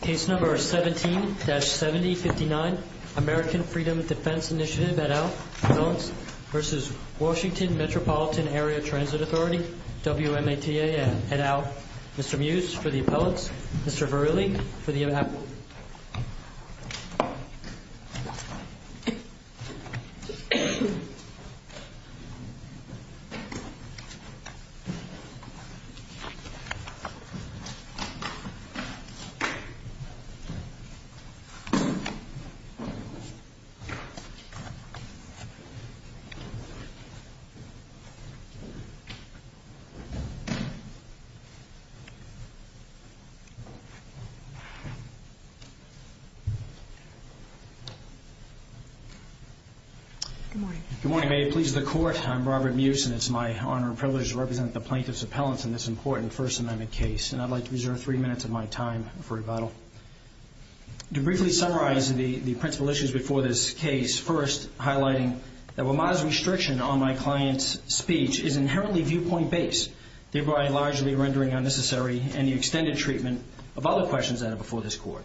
Case number 17-7059, American Freedom Defense Initiative, et al., Appellants v. Washington Metropolitan Area Transit Authority, WMATA, et al. Mr. Muse for the Appellants, Mr. Verrilli for the Appellants. Good morning. Good morning. May it please the Court, I'm Robert Muse, and it's my honor and privilege to represent the plaintiffs' appellants in this important First Amendment case. And I'd like to reserve three minutes of my time for rebuttal. To briefly summarize the principal issues before this case, first, highlighting that WMATA's restriction on my client's speech is inherently viewpoint-based, thereby largely rendering unnecessary any extended treatment of other questions before this Court.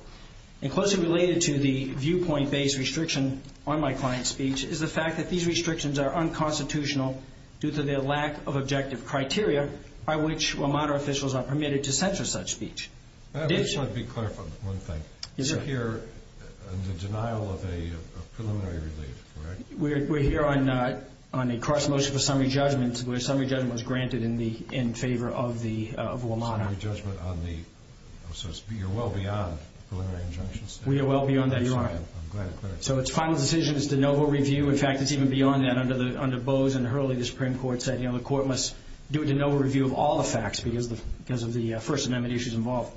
And closely related to the viewpoint-based restriction on my client's speech is the fact that these restrictions are unconstitutional due to their lack of objective criteria by which WMATA officials are permitted to censor such speech. I just want to be clear on one thing. You're here on the denial of a preliminary relief, correct? We're here on a cross-motion for summary judgment, where summary judgment was granted in favor of WMATA. So you're well beyond preliminary injunctions? We are well beyond that, Your Honor. I'm glad to hear it. So its final decision is de novo review. In fact, it's even beyond that. Under Bose and Hurley, the Supreme Court said the Court must do a de novo review of all the facts because of the First Amendment issues involved.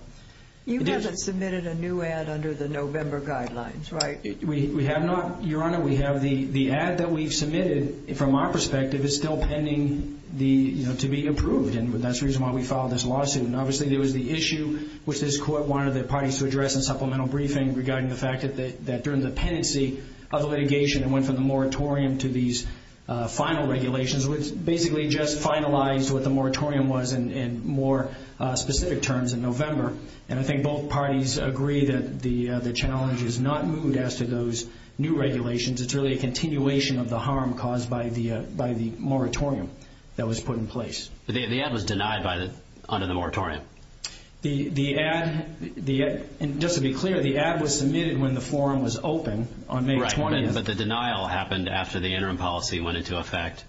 You haven't submitted a new ad under the November guidelines, right? We have not, Your Honor. The ad that we've submitted, from our perspective, is still pending to be approved, and that's the reason why we filed this lawsuit. And obviously there was the issue which this Court wanted the parties to address in supplemental briefing regarding the fact that during the pendency of the litigation, it went from the moratorium to these final regulations, which basically just finalized what the moratorium was in more specific terms in November. And I think both parties agree that the challenge is not moved as to those new regulations. It's really a continuation of the harm caused by the moratorium that was put in place. The ad was denied under the moratorium? The ad, just to be clear, the ad was submitted when the forum was open on May 20th. Right, but the denial happened after the interim policy went into effect,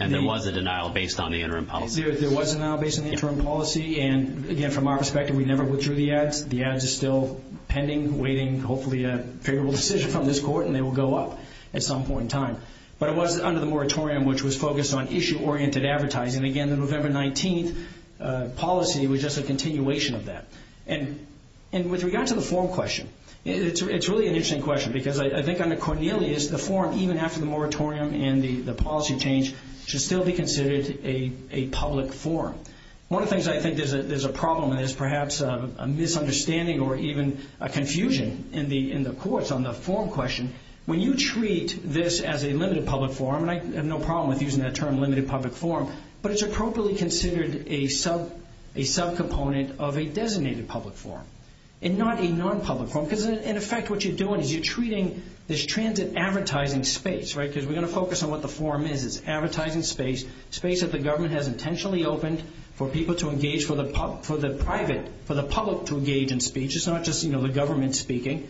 and there was a denial based on the interim policy. There was a denial based on the interim policy, and again, from our perspective, we never withdrew the ads. The ads are still pending, waiting, hopefully a favorable decision from this Court, and they will go up at some point in time. But it was under the moratorium which was focused on issue-oriented advertising. Again, the November 19th policy was just a continuation of that. And with regard to the forum question, it's really an interesting question because I think under Cornelius, the forum, even after the moratorium and the policy change, should still be considered a public forum. One of the things I think there's a problem, and there's perhaps a misunderstanding or even a confusion in the courts on the forum question, when you treat this as a limited public forum, and I have no problem with using that term, limited public forum, but it's appropriately considered a subcomponent of a designated public forum and not a non-public forum. Because in effect what you're doing is you're treating this transit advertising space, right, because we're going to focus on what the forum is. It's advertising space, space that the government has intentionally opened for people to engage, for the public to engage in speech. It's not just the government speaking.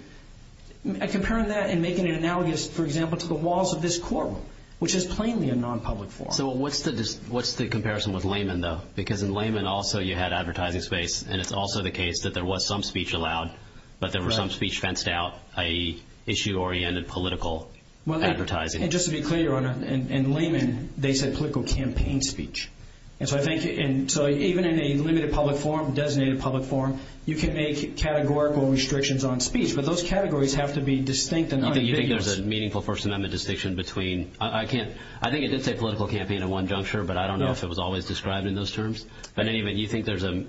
Comparing that and making it analogous, for example, to the walls of this courtroom, which is plainly a non-public forum. So what's the comparison with Lehman, though? Because in Lehman also you had advertising space, and it's also the case that there was some speech allowed, but there was some speech fenced out, i.e., issue-oriented political advertising. Just to be clear, Your Honor, in Lehman they said political campaign speech. So even in a limited public forum, designated public forum, you can make categorical restrictions on speech, but those categories have to be distinct and unambiguous. You think there's a meaningful First Amendment distinction between – I think it did say political campaign at one juncture, but I don't know if it was always described in those terms. But anyway, do you think there's a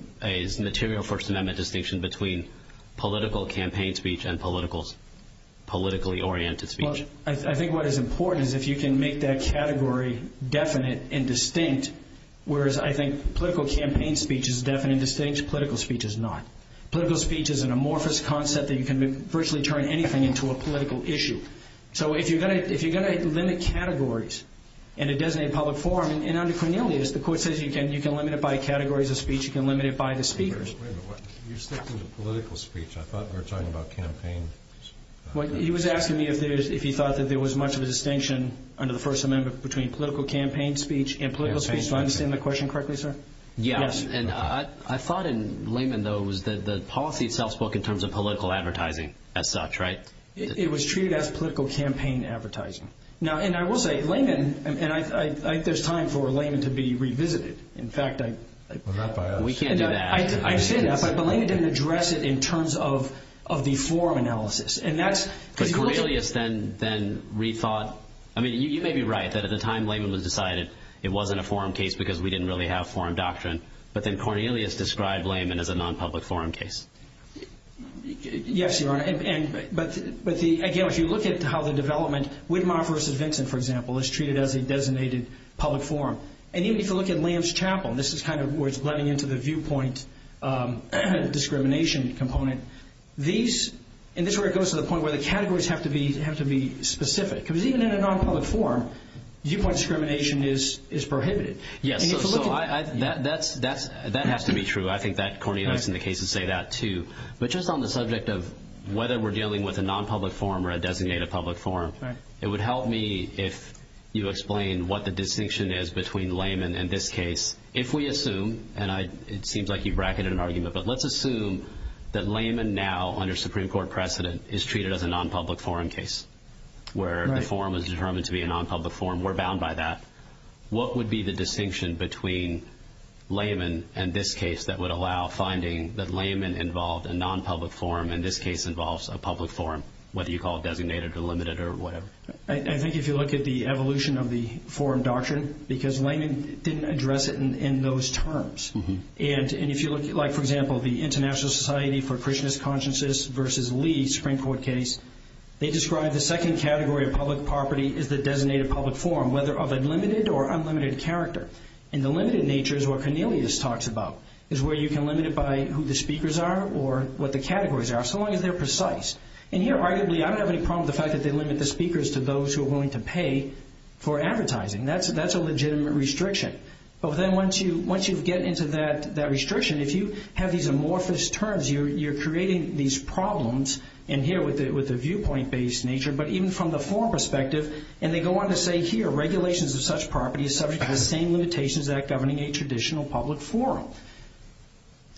material First Amendment distinction between political campaign speech and politically oriented speech? I think what is important is if you can make that category definite and distinct, whereas I think political campaign speech is definite and distinct, political speech is not. Political speech is an amorphous concept that you can virtually turn anything into a political issue. So if you're going to limit categories in a designated public forum – and under Cornelius, the Court says you can limit it by categories of speech, you can limit it by the speakers. Wait a minute. You're sticking to political speech. I thought we were talking about campaign. He was asking me if he thought that there was much of a distinction under the First Amendment between political campaign speech and political speech. Do I understand the question correctly, sir? Yes, and I thought in Layman, though, it was that the policy itself spoke in terms of political advertising as such, right? It was treated as political campaign advertising. Now, and I will say, Layman – and there's time for Layman to be revisited. In fact, I – We can't do that. I understand that, but Layman didn't address it in terms of the forum analysis, and that's – But Cornelius then rethought – I mean, you may be right that at the time Layman was decided it wasn't a forum case because we didn't really have forum doctrine, but then Cornelius described Layman as a non-public forum case. Yes, Your Honor, and – but the – again, if you look at how the development – Widmar v. Vincent, for example, is treated as a designated public forum. And even if you look at Lance Chapel, this is kind of where it's blending into the viewpoint discrimination component. These – and this is where it goes to the point where the categories have to be specific because even in a non-public forum, viewpoint discrimination is prohibited. Yes, so I – that has to be true. I think that Cornelius in the case would say that, too. But just on the subject of whether we're dealing with a non-public forum or a designated public forum, it would help me if you explain what the distinction is between Layman and this case. If we assume – and I – it seems like you've bracketed an argument, but let's assume that Layman now, under Supreme Court precedent, is treated as a non-public forum case where the forum is determined to be a non-public forum. We're bound by that. What would be the distinction between Layman and this case that would allow finding that Layman involved a non-public forum and this case involves a public forum, whether you call it designated or limited or whatever? I think if you look at the evolution of the forum doctrine, because Layman didn't address it in those terms. And if you look – like, for example, the International Society for Christian Consciousness versus Lee Supreme Court case, they describe the second category of public property as the designated public forum, whether of a limited or unlimited character. And the limited nature is what Cornelius talks about, is where you can limit it by who the speakers are or what the categories are, so long as they're precise. And here, arguably, I don't have any problem with the fact that they limit the speakers to those who are willing to pay for advertising. That's a legitimate restriction. But then once you get into that restriction, if you have these amorphous terms, you're creating these problems in here with the viewpoint-based nature. But even from the forum perspective – and they go on to say here, regulations of such property is subject to the same limitations as that governing a traditional public forum.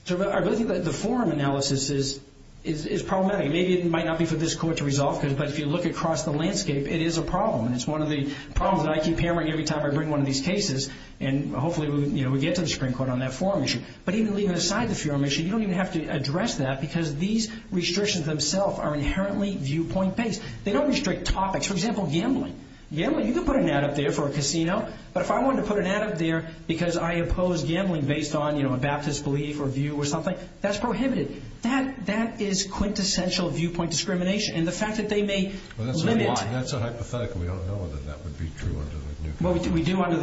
So I really think that the forum analysis is problematic. Maybe it might not be for this Court to resolve, but if you look across the landscape, it is a problem. And it's one of the problems that I keep hammering every time I bring one of these cases, and hopefully we get to the Supreme Court on that forum issue. But even leaving aside the forum issue, you don't even have to address that because these restrictions themselves are inherently viewpoint-based. They don't restrict topics. For example, gambling. You can put an ad up there for a casino. But if I wanted to put an ad up there because I oppose gambling based on a Baptist belief or view or something, that's prohibited. That is quintessential viewpoint discrimination. And the fact that they may limit – Well, that's a hypothetical. We don't know that that would be true under the new law. Well, we do under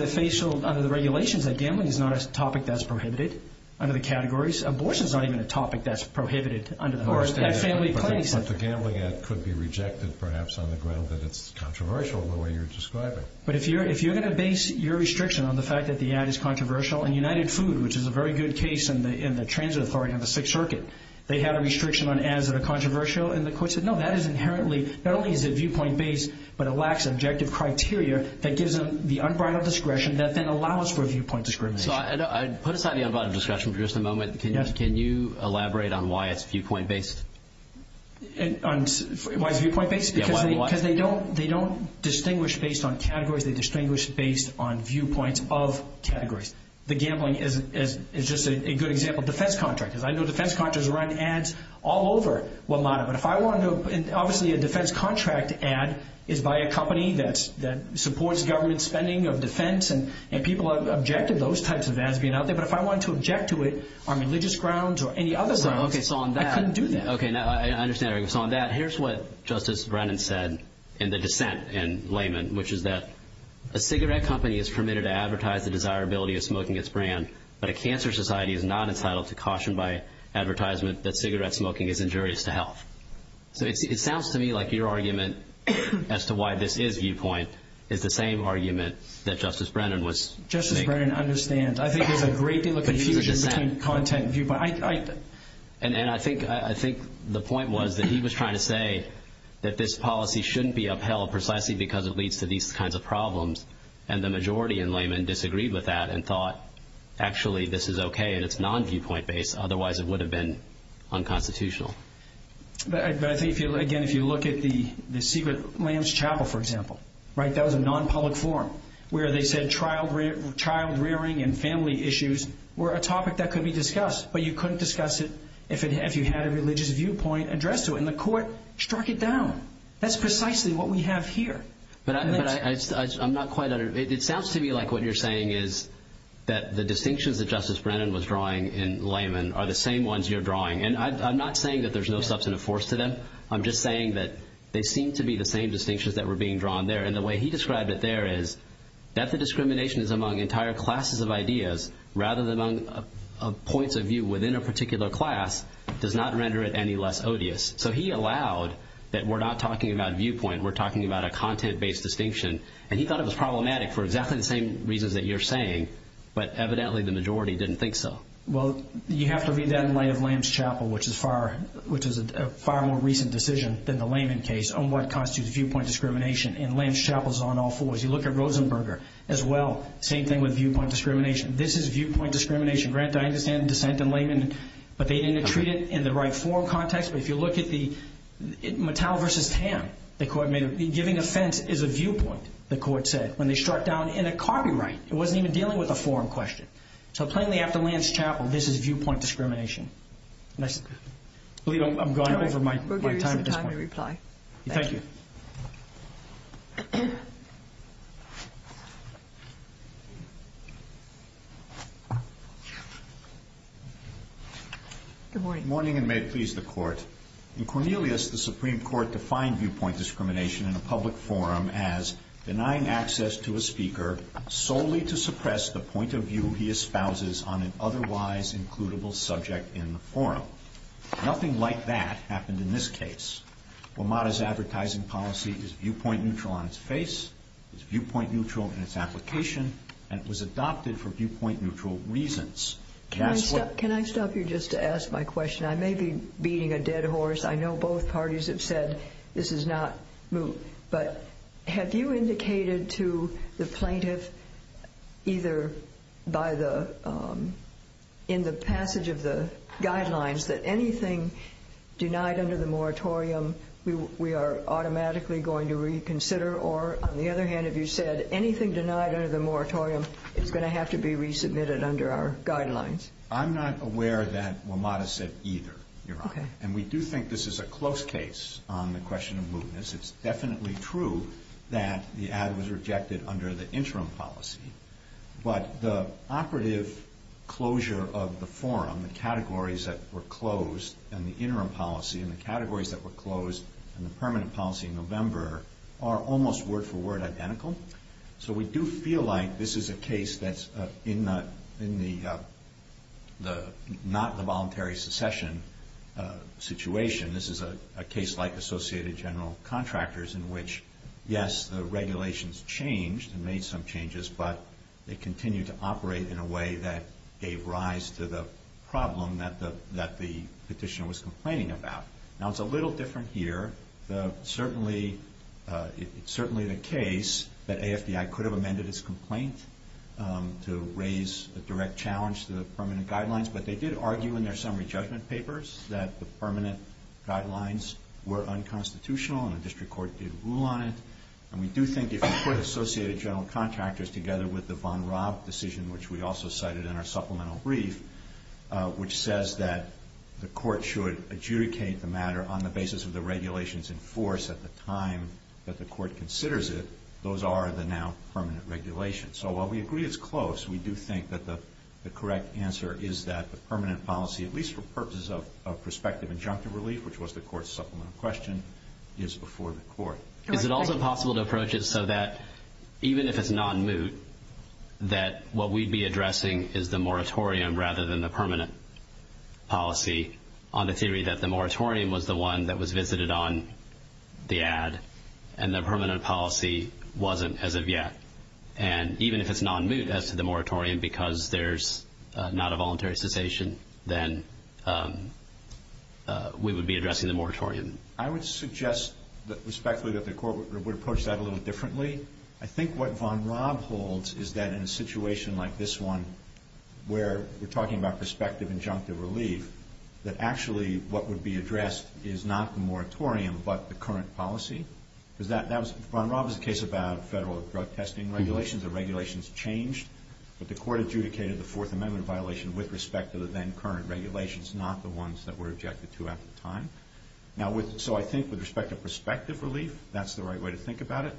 the regulations that gambling is not a topic that's prohibited under the categories. Abortion is not even a topic that's prohibited under the family claims. But the gambling ad could be rejected perhaps on the ground that it's controversial in the way you're describing. But if you're going to base your restriction on the fact that the ad is controversial – and United Food, which is a very good case in the transit authority on the Sixth Circuit, they have a restriction on ads that are controversial. And the court said, no, that is inherently – not only is it viewpoint-based, but it lacks objective criteria that gives them the unbridled discretion that then allows for viewpoint discrimination. So put aside the unbridled discretion for just a moment. Can you elaborate on why it's viewpoint-based? Why it's viewpoint-based? Because they don't distinguish based on categories. They distinguish based on viewpoints of categories. The gambling is just a good example of defense contractors. I know defense contractors run ads all over WMATA. But if I wanted to – and obviously a defense contract ad is by a company that supports government spending of defense. And people have objected to those types of ads being out there. But if I wanted to object to it on religious grounds or any other grounds, I couldn't do that. Okay. Now, I understand. So on that, here's what Justice Brennan said in the dissent in Layman, which is that a cigarette company is permitted to advertise the desirability of smoking its brand, but a cancer society is not entitled to caution by advertisement that cigarette smoking is injurious to health. So it sounds to me like your argument as to why this is viewpoint is the same argument that Justice Brennan was – Justice Brennan understands. I think there's a great deal of confusion between content and viewpoint. And I think the point was that he was trying to say that this policy shouldn't be upheld precisely because it leads to these kinds of problems. And the majority in Layman disagreed with that and thought, actually, this is okay and it's non-viewpoint based. Otherwise, it would have been unconstitutional. But I think, again, if you look at the Secret Lambs Chapel, for example, right? That was a non-public forum where they said child rearing and family issues were a topic that could be discussed. But you couldn't discuss it if you had a religious viewpoint addressed to it. And the court struck it down. That's precisely what we have here. But I'm not quite – it sounds to me like what you're saying is that the distinctions that Justice Brennan was drawing in Layman are the same ones you're drawing. And I'm not saying that there's no substantive force to them. I'm just saying that they seem to be the same distinctions that were being drawn there. And the way he described it there is that the discrimination is among entire classes of ideas rather than among points of view within a particular class does not render it any less odious. So he allowed that we're not talking about viewpoint. We're talking about a content-based distinction. And he thought it was problematic for exactly the same reasons that you're saying, but evidently the majority didn't think so. Well, you have to read that in light of Lambs Chapel, which is a far more recent decision than the Layman case on what constitutes viewpoint discrimination, and Lambs Chapel is on all fours. You look at Rosenberger as well, same thing with viewpoint discrimination. This is viewpoint discrimination. Grant, I understand the dissent in Layman, but they didn't treat it in the right forum context. But if you look at the – Mattel v. Tam, the court made a – giving offense is a viewpoint, the court said, when they struck down in a copyright. It wasn't even dealing with a forum question. So plainly after Lambs Chapel, this is viewpoint discrimination. I believe I'm going over my time at this point. Thank you. Good morning. Good morning, and may it please the Court. In Cornelius, the Supreme Court defined viewpoint discrimination in a public forum as denying access to a speaker solely to suppress the point of view he espouses on an otherwise-includable subject in the forum. Nothing like that happened in this case. WMATA's advertising policy is viewpoint neutral on its face, is viewpoint neutral in its application, and it was adopted for viewpoint neutral reasons. Can I stop you just to ask my question? I may be beating a dead horse. I know both parties have said this is not – but have you indicated to the plaintiff either by the – that anything denied under the moratorium we are automatically going to reconsider, or on the other hand, have you said anything denied under the moratorium is going to have to be resubmitted under our guidelines? I'm not aware that WMATA said either, Your Honor. Okay. And we do think this is a close case on the question of mootness. It's definitely true that the ad was rejected under the interim policy, but the operative closure of the forum, the categories that were closed in the interim policy and the categories that were closed in the permanent policy in November are almost word-for-word identical. So we do feel like this is a case that's in the not the voluntary secession situation. This is a case like Associated General Contractors in which, yes, the regulations changed and made some changes, but they continued to operate in a way that gave rise to the problem that the petitioner was complaining about. Now, it's a little different here. It's certainly the case that AFDI could have amended its complaint to raise a direct challenge to the permanent guidelines, but they did argue in their summary judgment papers that the permanent guidelines were unconstitutional and the district court did rule on it. And we do think if you put Associated General Contractors together with the von Raab decision, which we also cited in our supplemental brief, which says that the court should adjudicate the matter on the basis of the regulations in force at the time that the court considers it, those are the now permanent regulations. So while we agree it's close, we do think that the correct answer is that the permanent policy, at least for purposes of prospective injunctive relief, which was the court's supplemental question, is before the court. Is it also possible to approach it so that even if it's non-moot, that what we'd be addressing is the moratorium rather than the permanent policy on the theory that the moratorium was the one that was visited on the ad and the permanent policy wasn't as of yet? And even if it's non-moot as to the moratorium because there's not a voluntary cessation, then we would be addressing the moratorium. I would suggest respectfully that the court would approach that a little differently. I think what von Raab holds is that in a situation like this one, where we're talking about prospective injunctive relief, that actually what would be addressed is not the moratorium but the current policy. Von Raab is a case about federal drug testing regulations. The regulations changed, but the court adjudicated the Fourth Amendment violation with respect to the then current regulations, not the ones that were objected to at the time. Now, so I think with respect to prospective relief, that's the right way to think about it.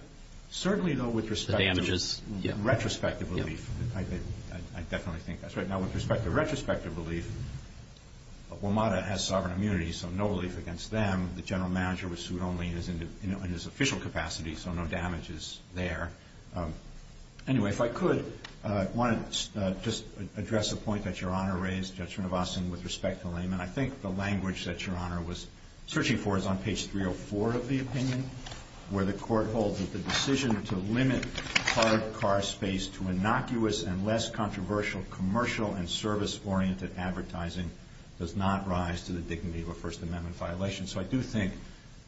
Certainly, though, with respect to retrospective relief, I definitely think that's right. Now, with respect to retrospective relief, WMATA has sovereign immunity, so no relief against them. The general manager was sued only in his official capacity, so no damage is there. Anyway, if I could, I wanted to just address a point that Your Honor raised, with respect to Layman. I think the language that Your Honor was searching for is on page 304 of the opinion, where the court holds that the decision to limit hard car space to innocuous and less controversial commercial and service-oriented advertising does not rise to the dignity of a First Amendment violation. So I do think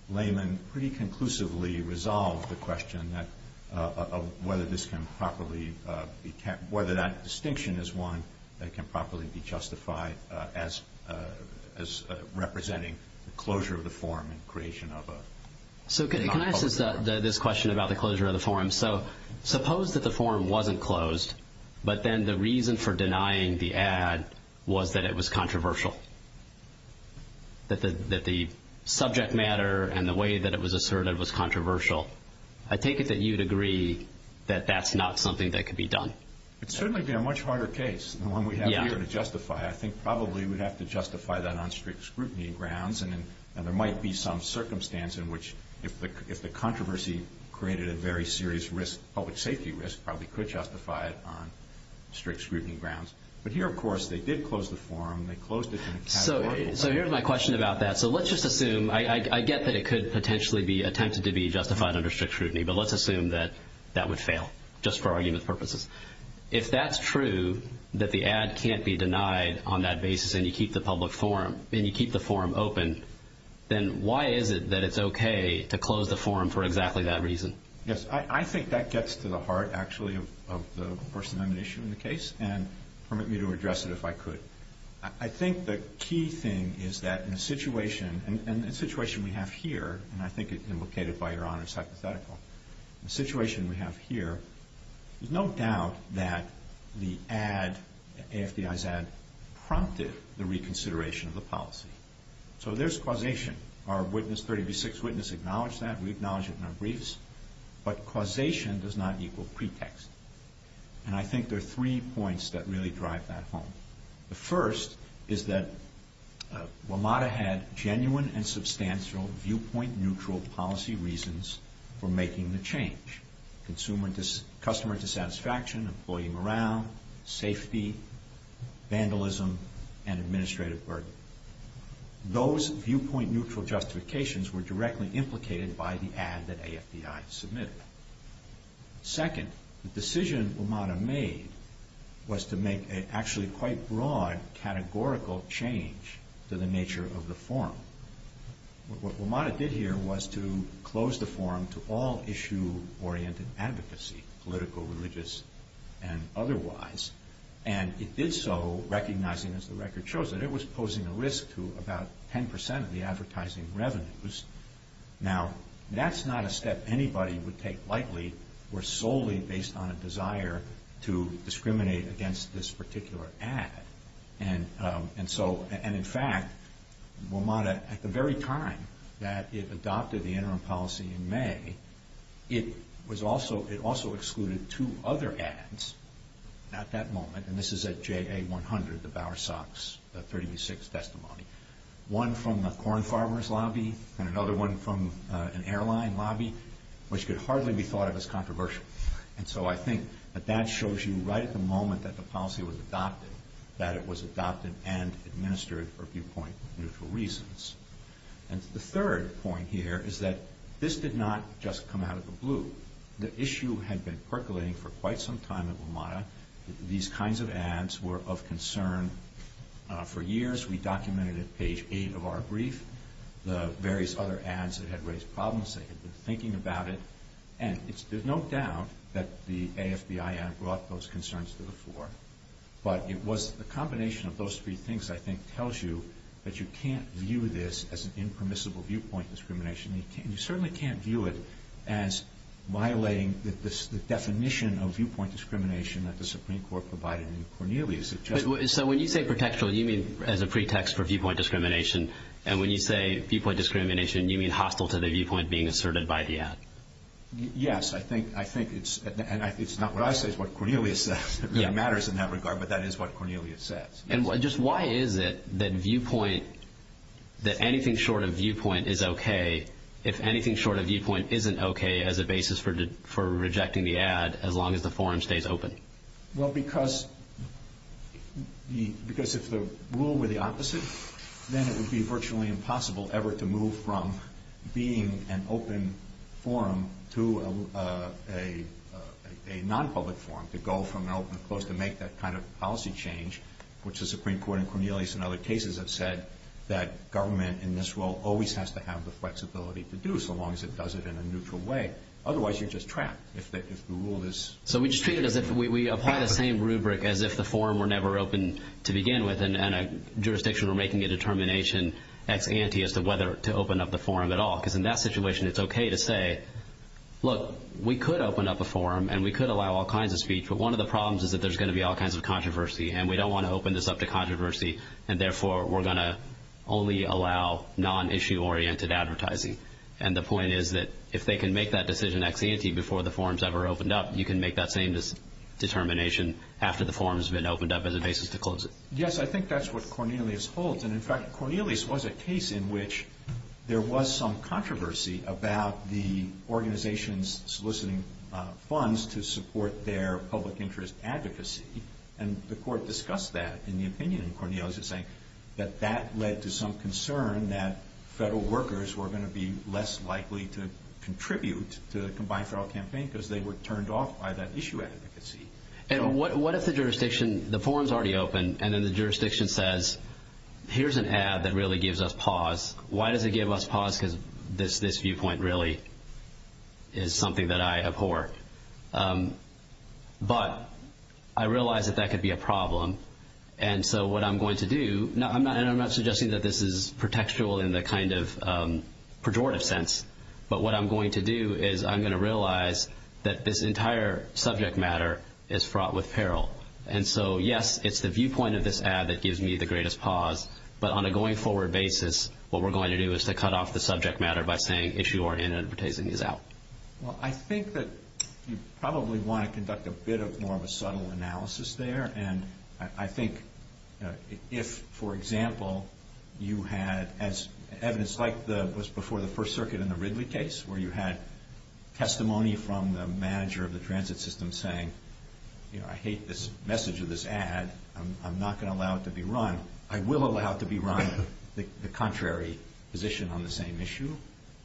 Layman pretty conclusively resolved the question of whether that distinction is one that can properly be justified as representing closure of the forum and creation of a non-public forum. So can I ask this question about the closure of the forum? So suppose that the forum wasn't closed, but then the reason for denying the ad was that it was controversial, that the subject matter and the way that it was asserted was controversial. I take it that you'd agree that that's not something that could be done. It'd certainly be a much harder case than the one we have here to justify. I think probably we'd have to justify that on strict scrutiny grounds, and there might be some circumstance in which if the controversy created a very serious risk, public safety risk, probably could justify it on strict scrutiny grounds. But here, of course, they did close the forum. They closed it in a categorical way. So here's my question about that. So let's just assume, I get that it could potentially be attempted to be justified under strict scrutiny, but let's assume that that would fail just for argument purposes. If that's true, that the ad can't be denied on that basis and you keep the forum open, then why is it that it's okay to close the forum for exactly that reason? Yes, I think that gets to the heart, actually, of the person on the issue in the case, and permit me to address it if I could. I think the key thing is that in a situation, and the situation we have here, and I think it's indicated by Your Honor's hypothetical, the situation we have here, there's no doubt that the ad, AFDI's ad, prompted the reconsideration of the policy. So there's causation. Our witness, 30 v. 6 witness, acknowledged that. We acknowledge it in our briefs. But causation does not equal pretext. And I think there are three points that really drive that home. The first is that WMATA had genuine and substantial viewpoint-neutral policy reasons for making the change. Customer dissatisfaction, employee morale, safety, vandalism, and administrative burden. Those viewpoint-neutral justifications were directly implicated by the ad that AFDI submitted. Second, the decision WMATA made was to make an actually quite broad categorical change to the nature of the forum. What WMATA did here was to close the forum to all issue-oriented advocacy, political, religious, and otherwise. And it did so recognizing, as the record shows, that it was posing a risk to about 10% of the advertising revenues. Now, that's not a step anybody would take lightly. We're solely based on a desire to discriminate against this particular ad. And in fact, WMATA, at the very time that it adopted the interim policy in May, it also excluded two other ads at that moment. And this is at JA100, the Bowersox 30 v. 6 testimony. One from a corn farmer's lobby and another one from an airline lobby, which could hardly be thought of as controversial. And so I think that that shows you right at the moment that the policy was adopted that it was adopted and administered for viewpoint-neutral reasons. And the third point here is that this did not just come out of the blue. The issue had been percolating for quite some time at WMATA. These kinds of ads were of concern for years. We documented at page 8 of our brief the various other ads that had raised problems. They had been thinking about it. And there's no doubt that the AFBIN brought those concerns to the floor. But it was the combination of those three things, I think, tells you that you can't view this as an impermissible viewpoint discrimination. You certainly can't view it as violating the definition of viewpoint discrimination that the Supreme Court provided in Cornelius. So when you say pretextual, you mean as a pretext for viewpoint discrimination. And when you say viewpoint discrimination, you mean hostile to the viewpoint being asserted by the ad. Yes, I think it's not what I say, it's what Cornelius says. It really matters in that regard, but that is what Cornelius says. And just why is it that anything short of viewpoint is okay if anything short of viewpoint isn't okay as a basis for rejecting the ad as long as the forum stays open? Well, because if the rule were the opposite, then it would be virtually impossible ever to move from being an open forum to a non-public forum, to go from an open to closed, to make that kind of policy change, which the Supreme Court in Cornelius and other cases have said that government in this role always has to have the flexibility to do so long as it does it in a neutral way. Otherwise, you're just trapped if the rule is... So we just treat it as if we apply the same rubric as if the forum were never open to begin with and a jurisdiction were making a determination ex ante as to whether to open up the forum at all. Because in that situation, it's okay to say, look, we could open up a forum and we could allow all kinds of speech, but one of the problems is that there's going to be all kinds of controversy and we don't want to open this up to controversy and therefore we're going to only allow non-issue oriented advertising. And the point is that if they can make that decision ex ante before the forum's ever opened up, you can make that same determination after the forum's been opened up as a basis to close it. Yes, I think that's what Cornelius holds. And in fact, Cornelius was a case in which there was some controversy about the organizations soliciting funds to support their public interest advocacy. And the Court discussed that in the opinion in Cornelius in saying that that led to some concern that federal workers were going to be less likely to contribute to the combined federal campaign because they were turned off by that issue advocacy. And what if the jurisdiction, the forum's already open, and then the jurisdiction says, here's an ad that really gives us pause. Why does it give us pause? Because this viewpoint really is something that I abhor. But I realize that that could be a problem. And so what I'm going to do, and I'm not suggesting that this is pretextual in the kind of pejorative sense, but what I'm going to do is I'm going to realize that this entire subject matter is fraught with peril. And so, yes, it's the viewpoint of this ad that gives me the greatest pause, but on a going-forward basis, what we're going to do is to cut off the subject matter by saying issue or inadvertencing is out. Well, I think that you probably want to conduct a bit more of a subtle analysis there. And I think if, for example, you had evidence like what was before the First Circuit in the Ridley case, where you had testimony from the manager of the transit system saying, you know, I hate this message of this ad. I'm not going to allow it to be run. I will allow it to be run, the contrary position on the same issue.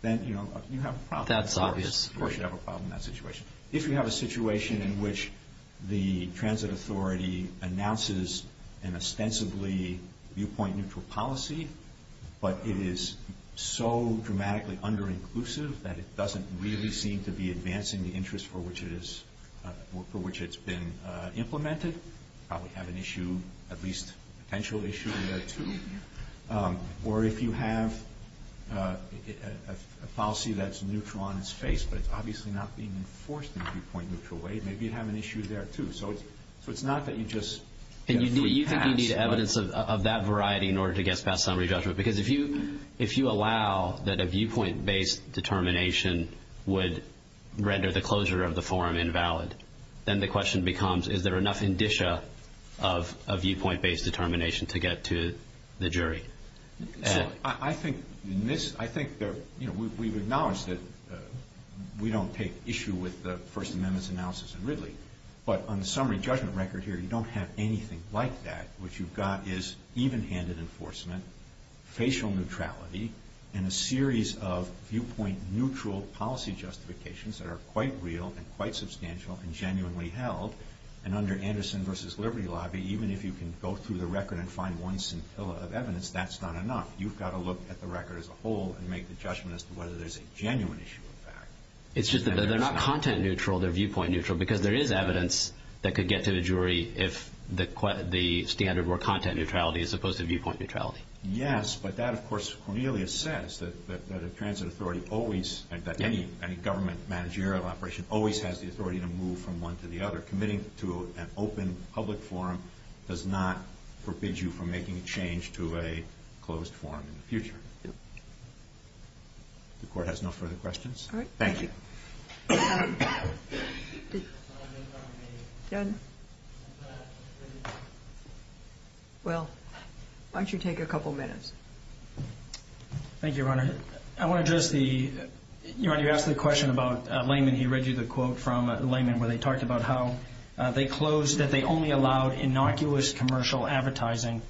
Then, you know, you have a problem. That's obvious. Of course you have a problem in that situation. If you have a situation in which the transit authority announces an ostensibly viewpoint neutral policy, but it is so dramatically under-inclusive that it doesn't really seem to be advancing the interest for which it's been implemented, you probably have an issue, at least a potential issue there, too. Or if you have a policy that's neutral on its face, but it's obviously not being enforced in a viewpoint neutral way, maybe you'd have an issue there, too. So it's not that you just get free pass. And you think you need evidence of that variety in order to get past summary judgment? Because if you allow that a viewpoint-based determination would render the closure of the forum invalid, then the question becomes, is there enough indicia of viewpoint-based determination to get to the jury? I think we've acknowledged that we don't take issue with the First Amendment's analysis in Ridley, but on the summary judgment record here, you don't have anything like that. What you've got is even-handed enforcement, facial neutrality, and a series of viewpoint-neutral policy justifications that are quite real and quite substantial and genuinely held. And under Anderson v. Liberty Lobby, even if you can go through the record and find one scintilla of evidence, that's not enough. You've got to look at the record as a whole and make the judgment as to whether there's a genuine issue of fact. It's just that they're not content neutral, they're viewpoint neutral, because there is evidence that could get to the jury if the standard were content neutrality as opposed to viewpoint neutrality. Yes, but that, of course, Cornelius says, that a transit authority always, that any government managerial operation always has the authority to move from one to the other. Committing to an open public forum does not forbid you from making a change to a closed forum in the future. The Court has no further questions. All right. Thank you. Will, why don't you take a couple minutes? Thank you, Your Honor. I want to address the, Your Honor, you asked the question about Lehman. He read you the quote from Lehman where they talked about how they closed, that they only allowed innocuous commercial advertising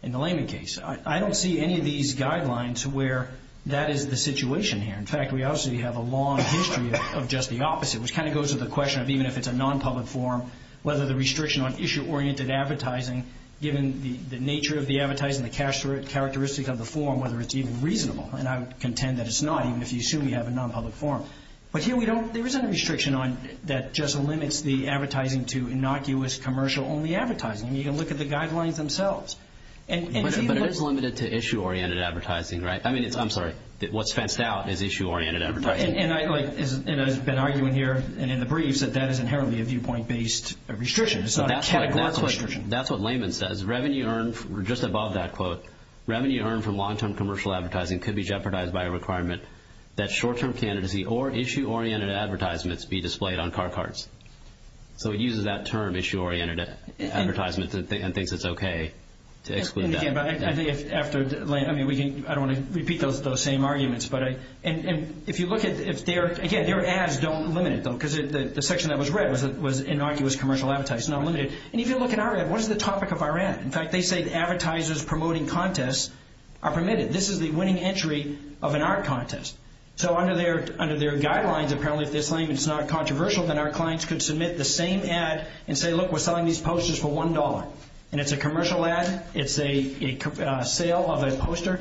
in the Lehman case. I don't see any of these guidelines where that is the situation here. In fact, we obviously have a long history of just the opposite, which kind of goes to the question of even if it's a non-public forum, whether the restriction on issue-oriented advertising, given the nature of the advertising, the characteristic of the forum, whether it's even reasonable. And I would contend that it's not, even if you assume you have a non-public forum. But here we don't, there isn't a restriction on, that just limits the advertising to innocuous commercial-only advertising. I mean, you can look at the guidelines themselves. But it is limited to issue-oriented advertising, right? I mean, it's, I'm sorry, what's fenced out is issue-oriented advertising. And I like, and I've been arguing here and in the briefs that that is inherently a viewpoint-based restriction. It's not a categorical restriction. That's what Lehman says. Revenue earned, just above that quote, revenue earned from long-term commercial advertising could be jeopardized by a requirement that short-term candidacy or issue-oriented advertisements be displayed on car carts. So it uses that term, issue-oriented advertisement, and thinks it's okay to exclude that. And again, I think after, I mean, we can, I don't want to repeat those same arguments. But if you look at, again, their ads don't limit it, though, because the section that was read was innocuous commercial advertising. It's not limited. And if you look at our ad, what is the topic of our ad? In fact, they say advertisers promoting contests are permitted. This is the winning entry of an art contest. So under their guidelines, apparently, if they're saying it's not controversial, then our clients could submit the same ad and say, look, we're selling these posters for $1. And it's a commercial ad. It's a sale of a poster.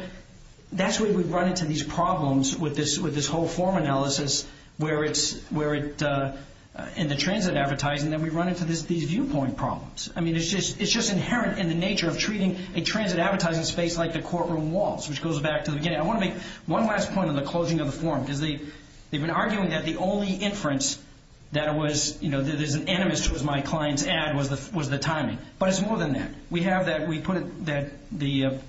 That's where we run into these problems with this whole form analysis where it's, in the transit advertising, that we run into these viewpoint problems. I mean, it's just inherent in the nature of treating a transit advertising space like the courtroom walls, which goes back to the beginning. I want to make one last point on the closing of the form, because they've been arguing that the only inference that was, you know, that is an animus to my client's ad was the timing. But it's more than that. We have that. We put the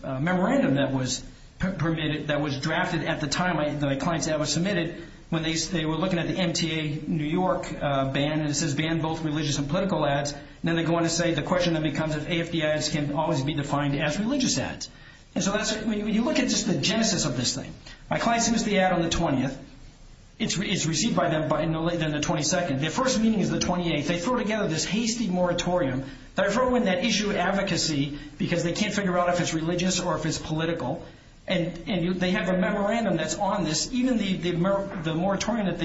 memorandum that was drafted at the time the client's ad was submitted, when they were looking at the MTA New York ban, and it says ban both religious and political ads. And then they go on to say the question then becomes if AFD ads can always be defined as religious ads. And so when you look at just the genesis of this thing, my client submits the ad on the 20th. It's received by them in the 22nd. Their first meeting is the 28th. They throw together this hasty moratorium. They throw in that issue of advocacy, because they can't figure out if it's religious or if it's political. And they have a memorandum that's on this. Even the moratorium that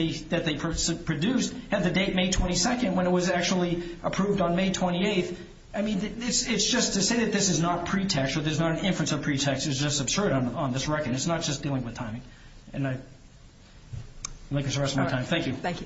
they produced had the date May 22nd when it was actually approved on May 28th. I mean, it's just to say that this is not pretext or there's not an inference of pretext is just absurd on this record. It's not just dealing with timing. And I'd like to address my time. Thank you.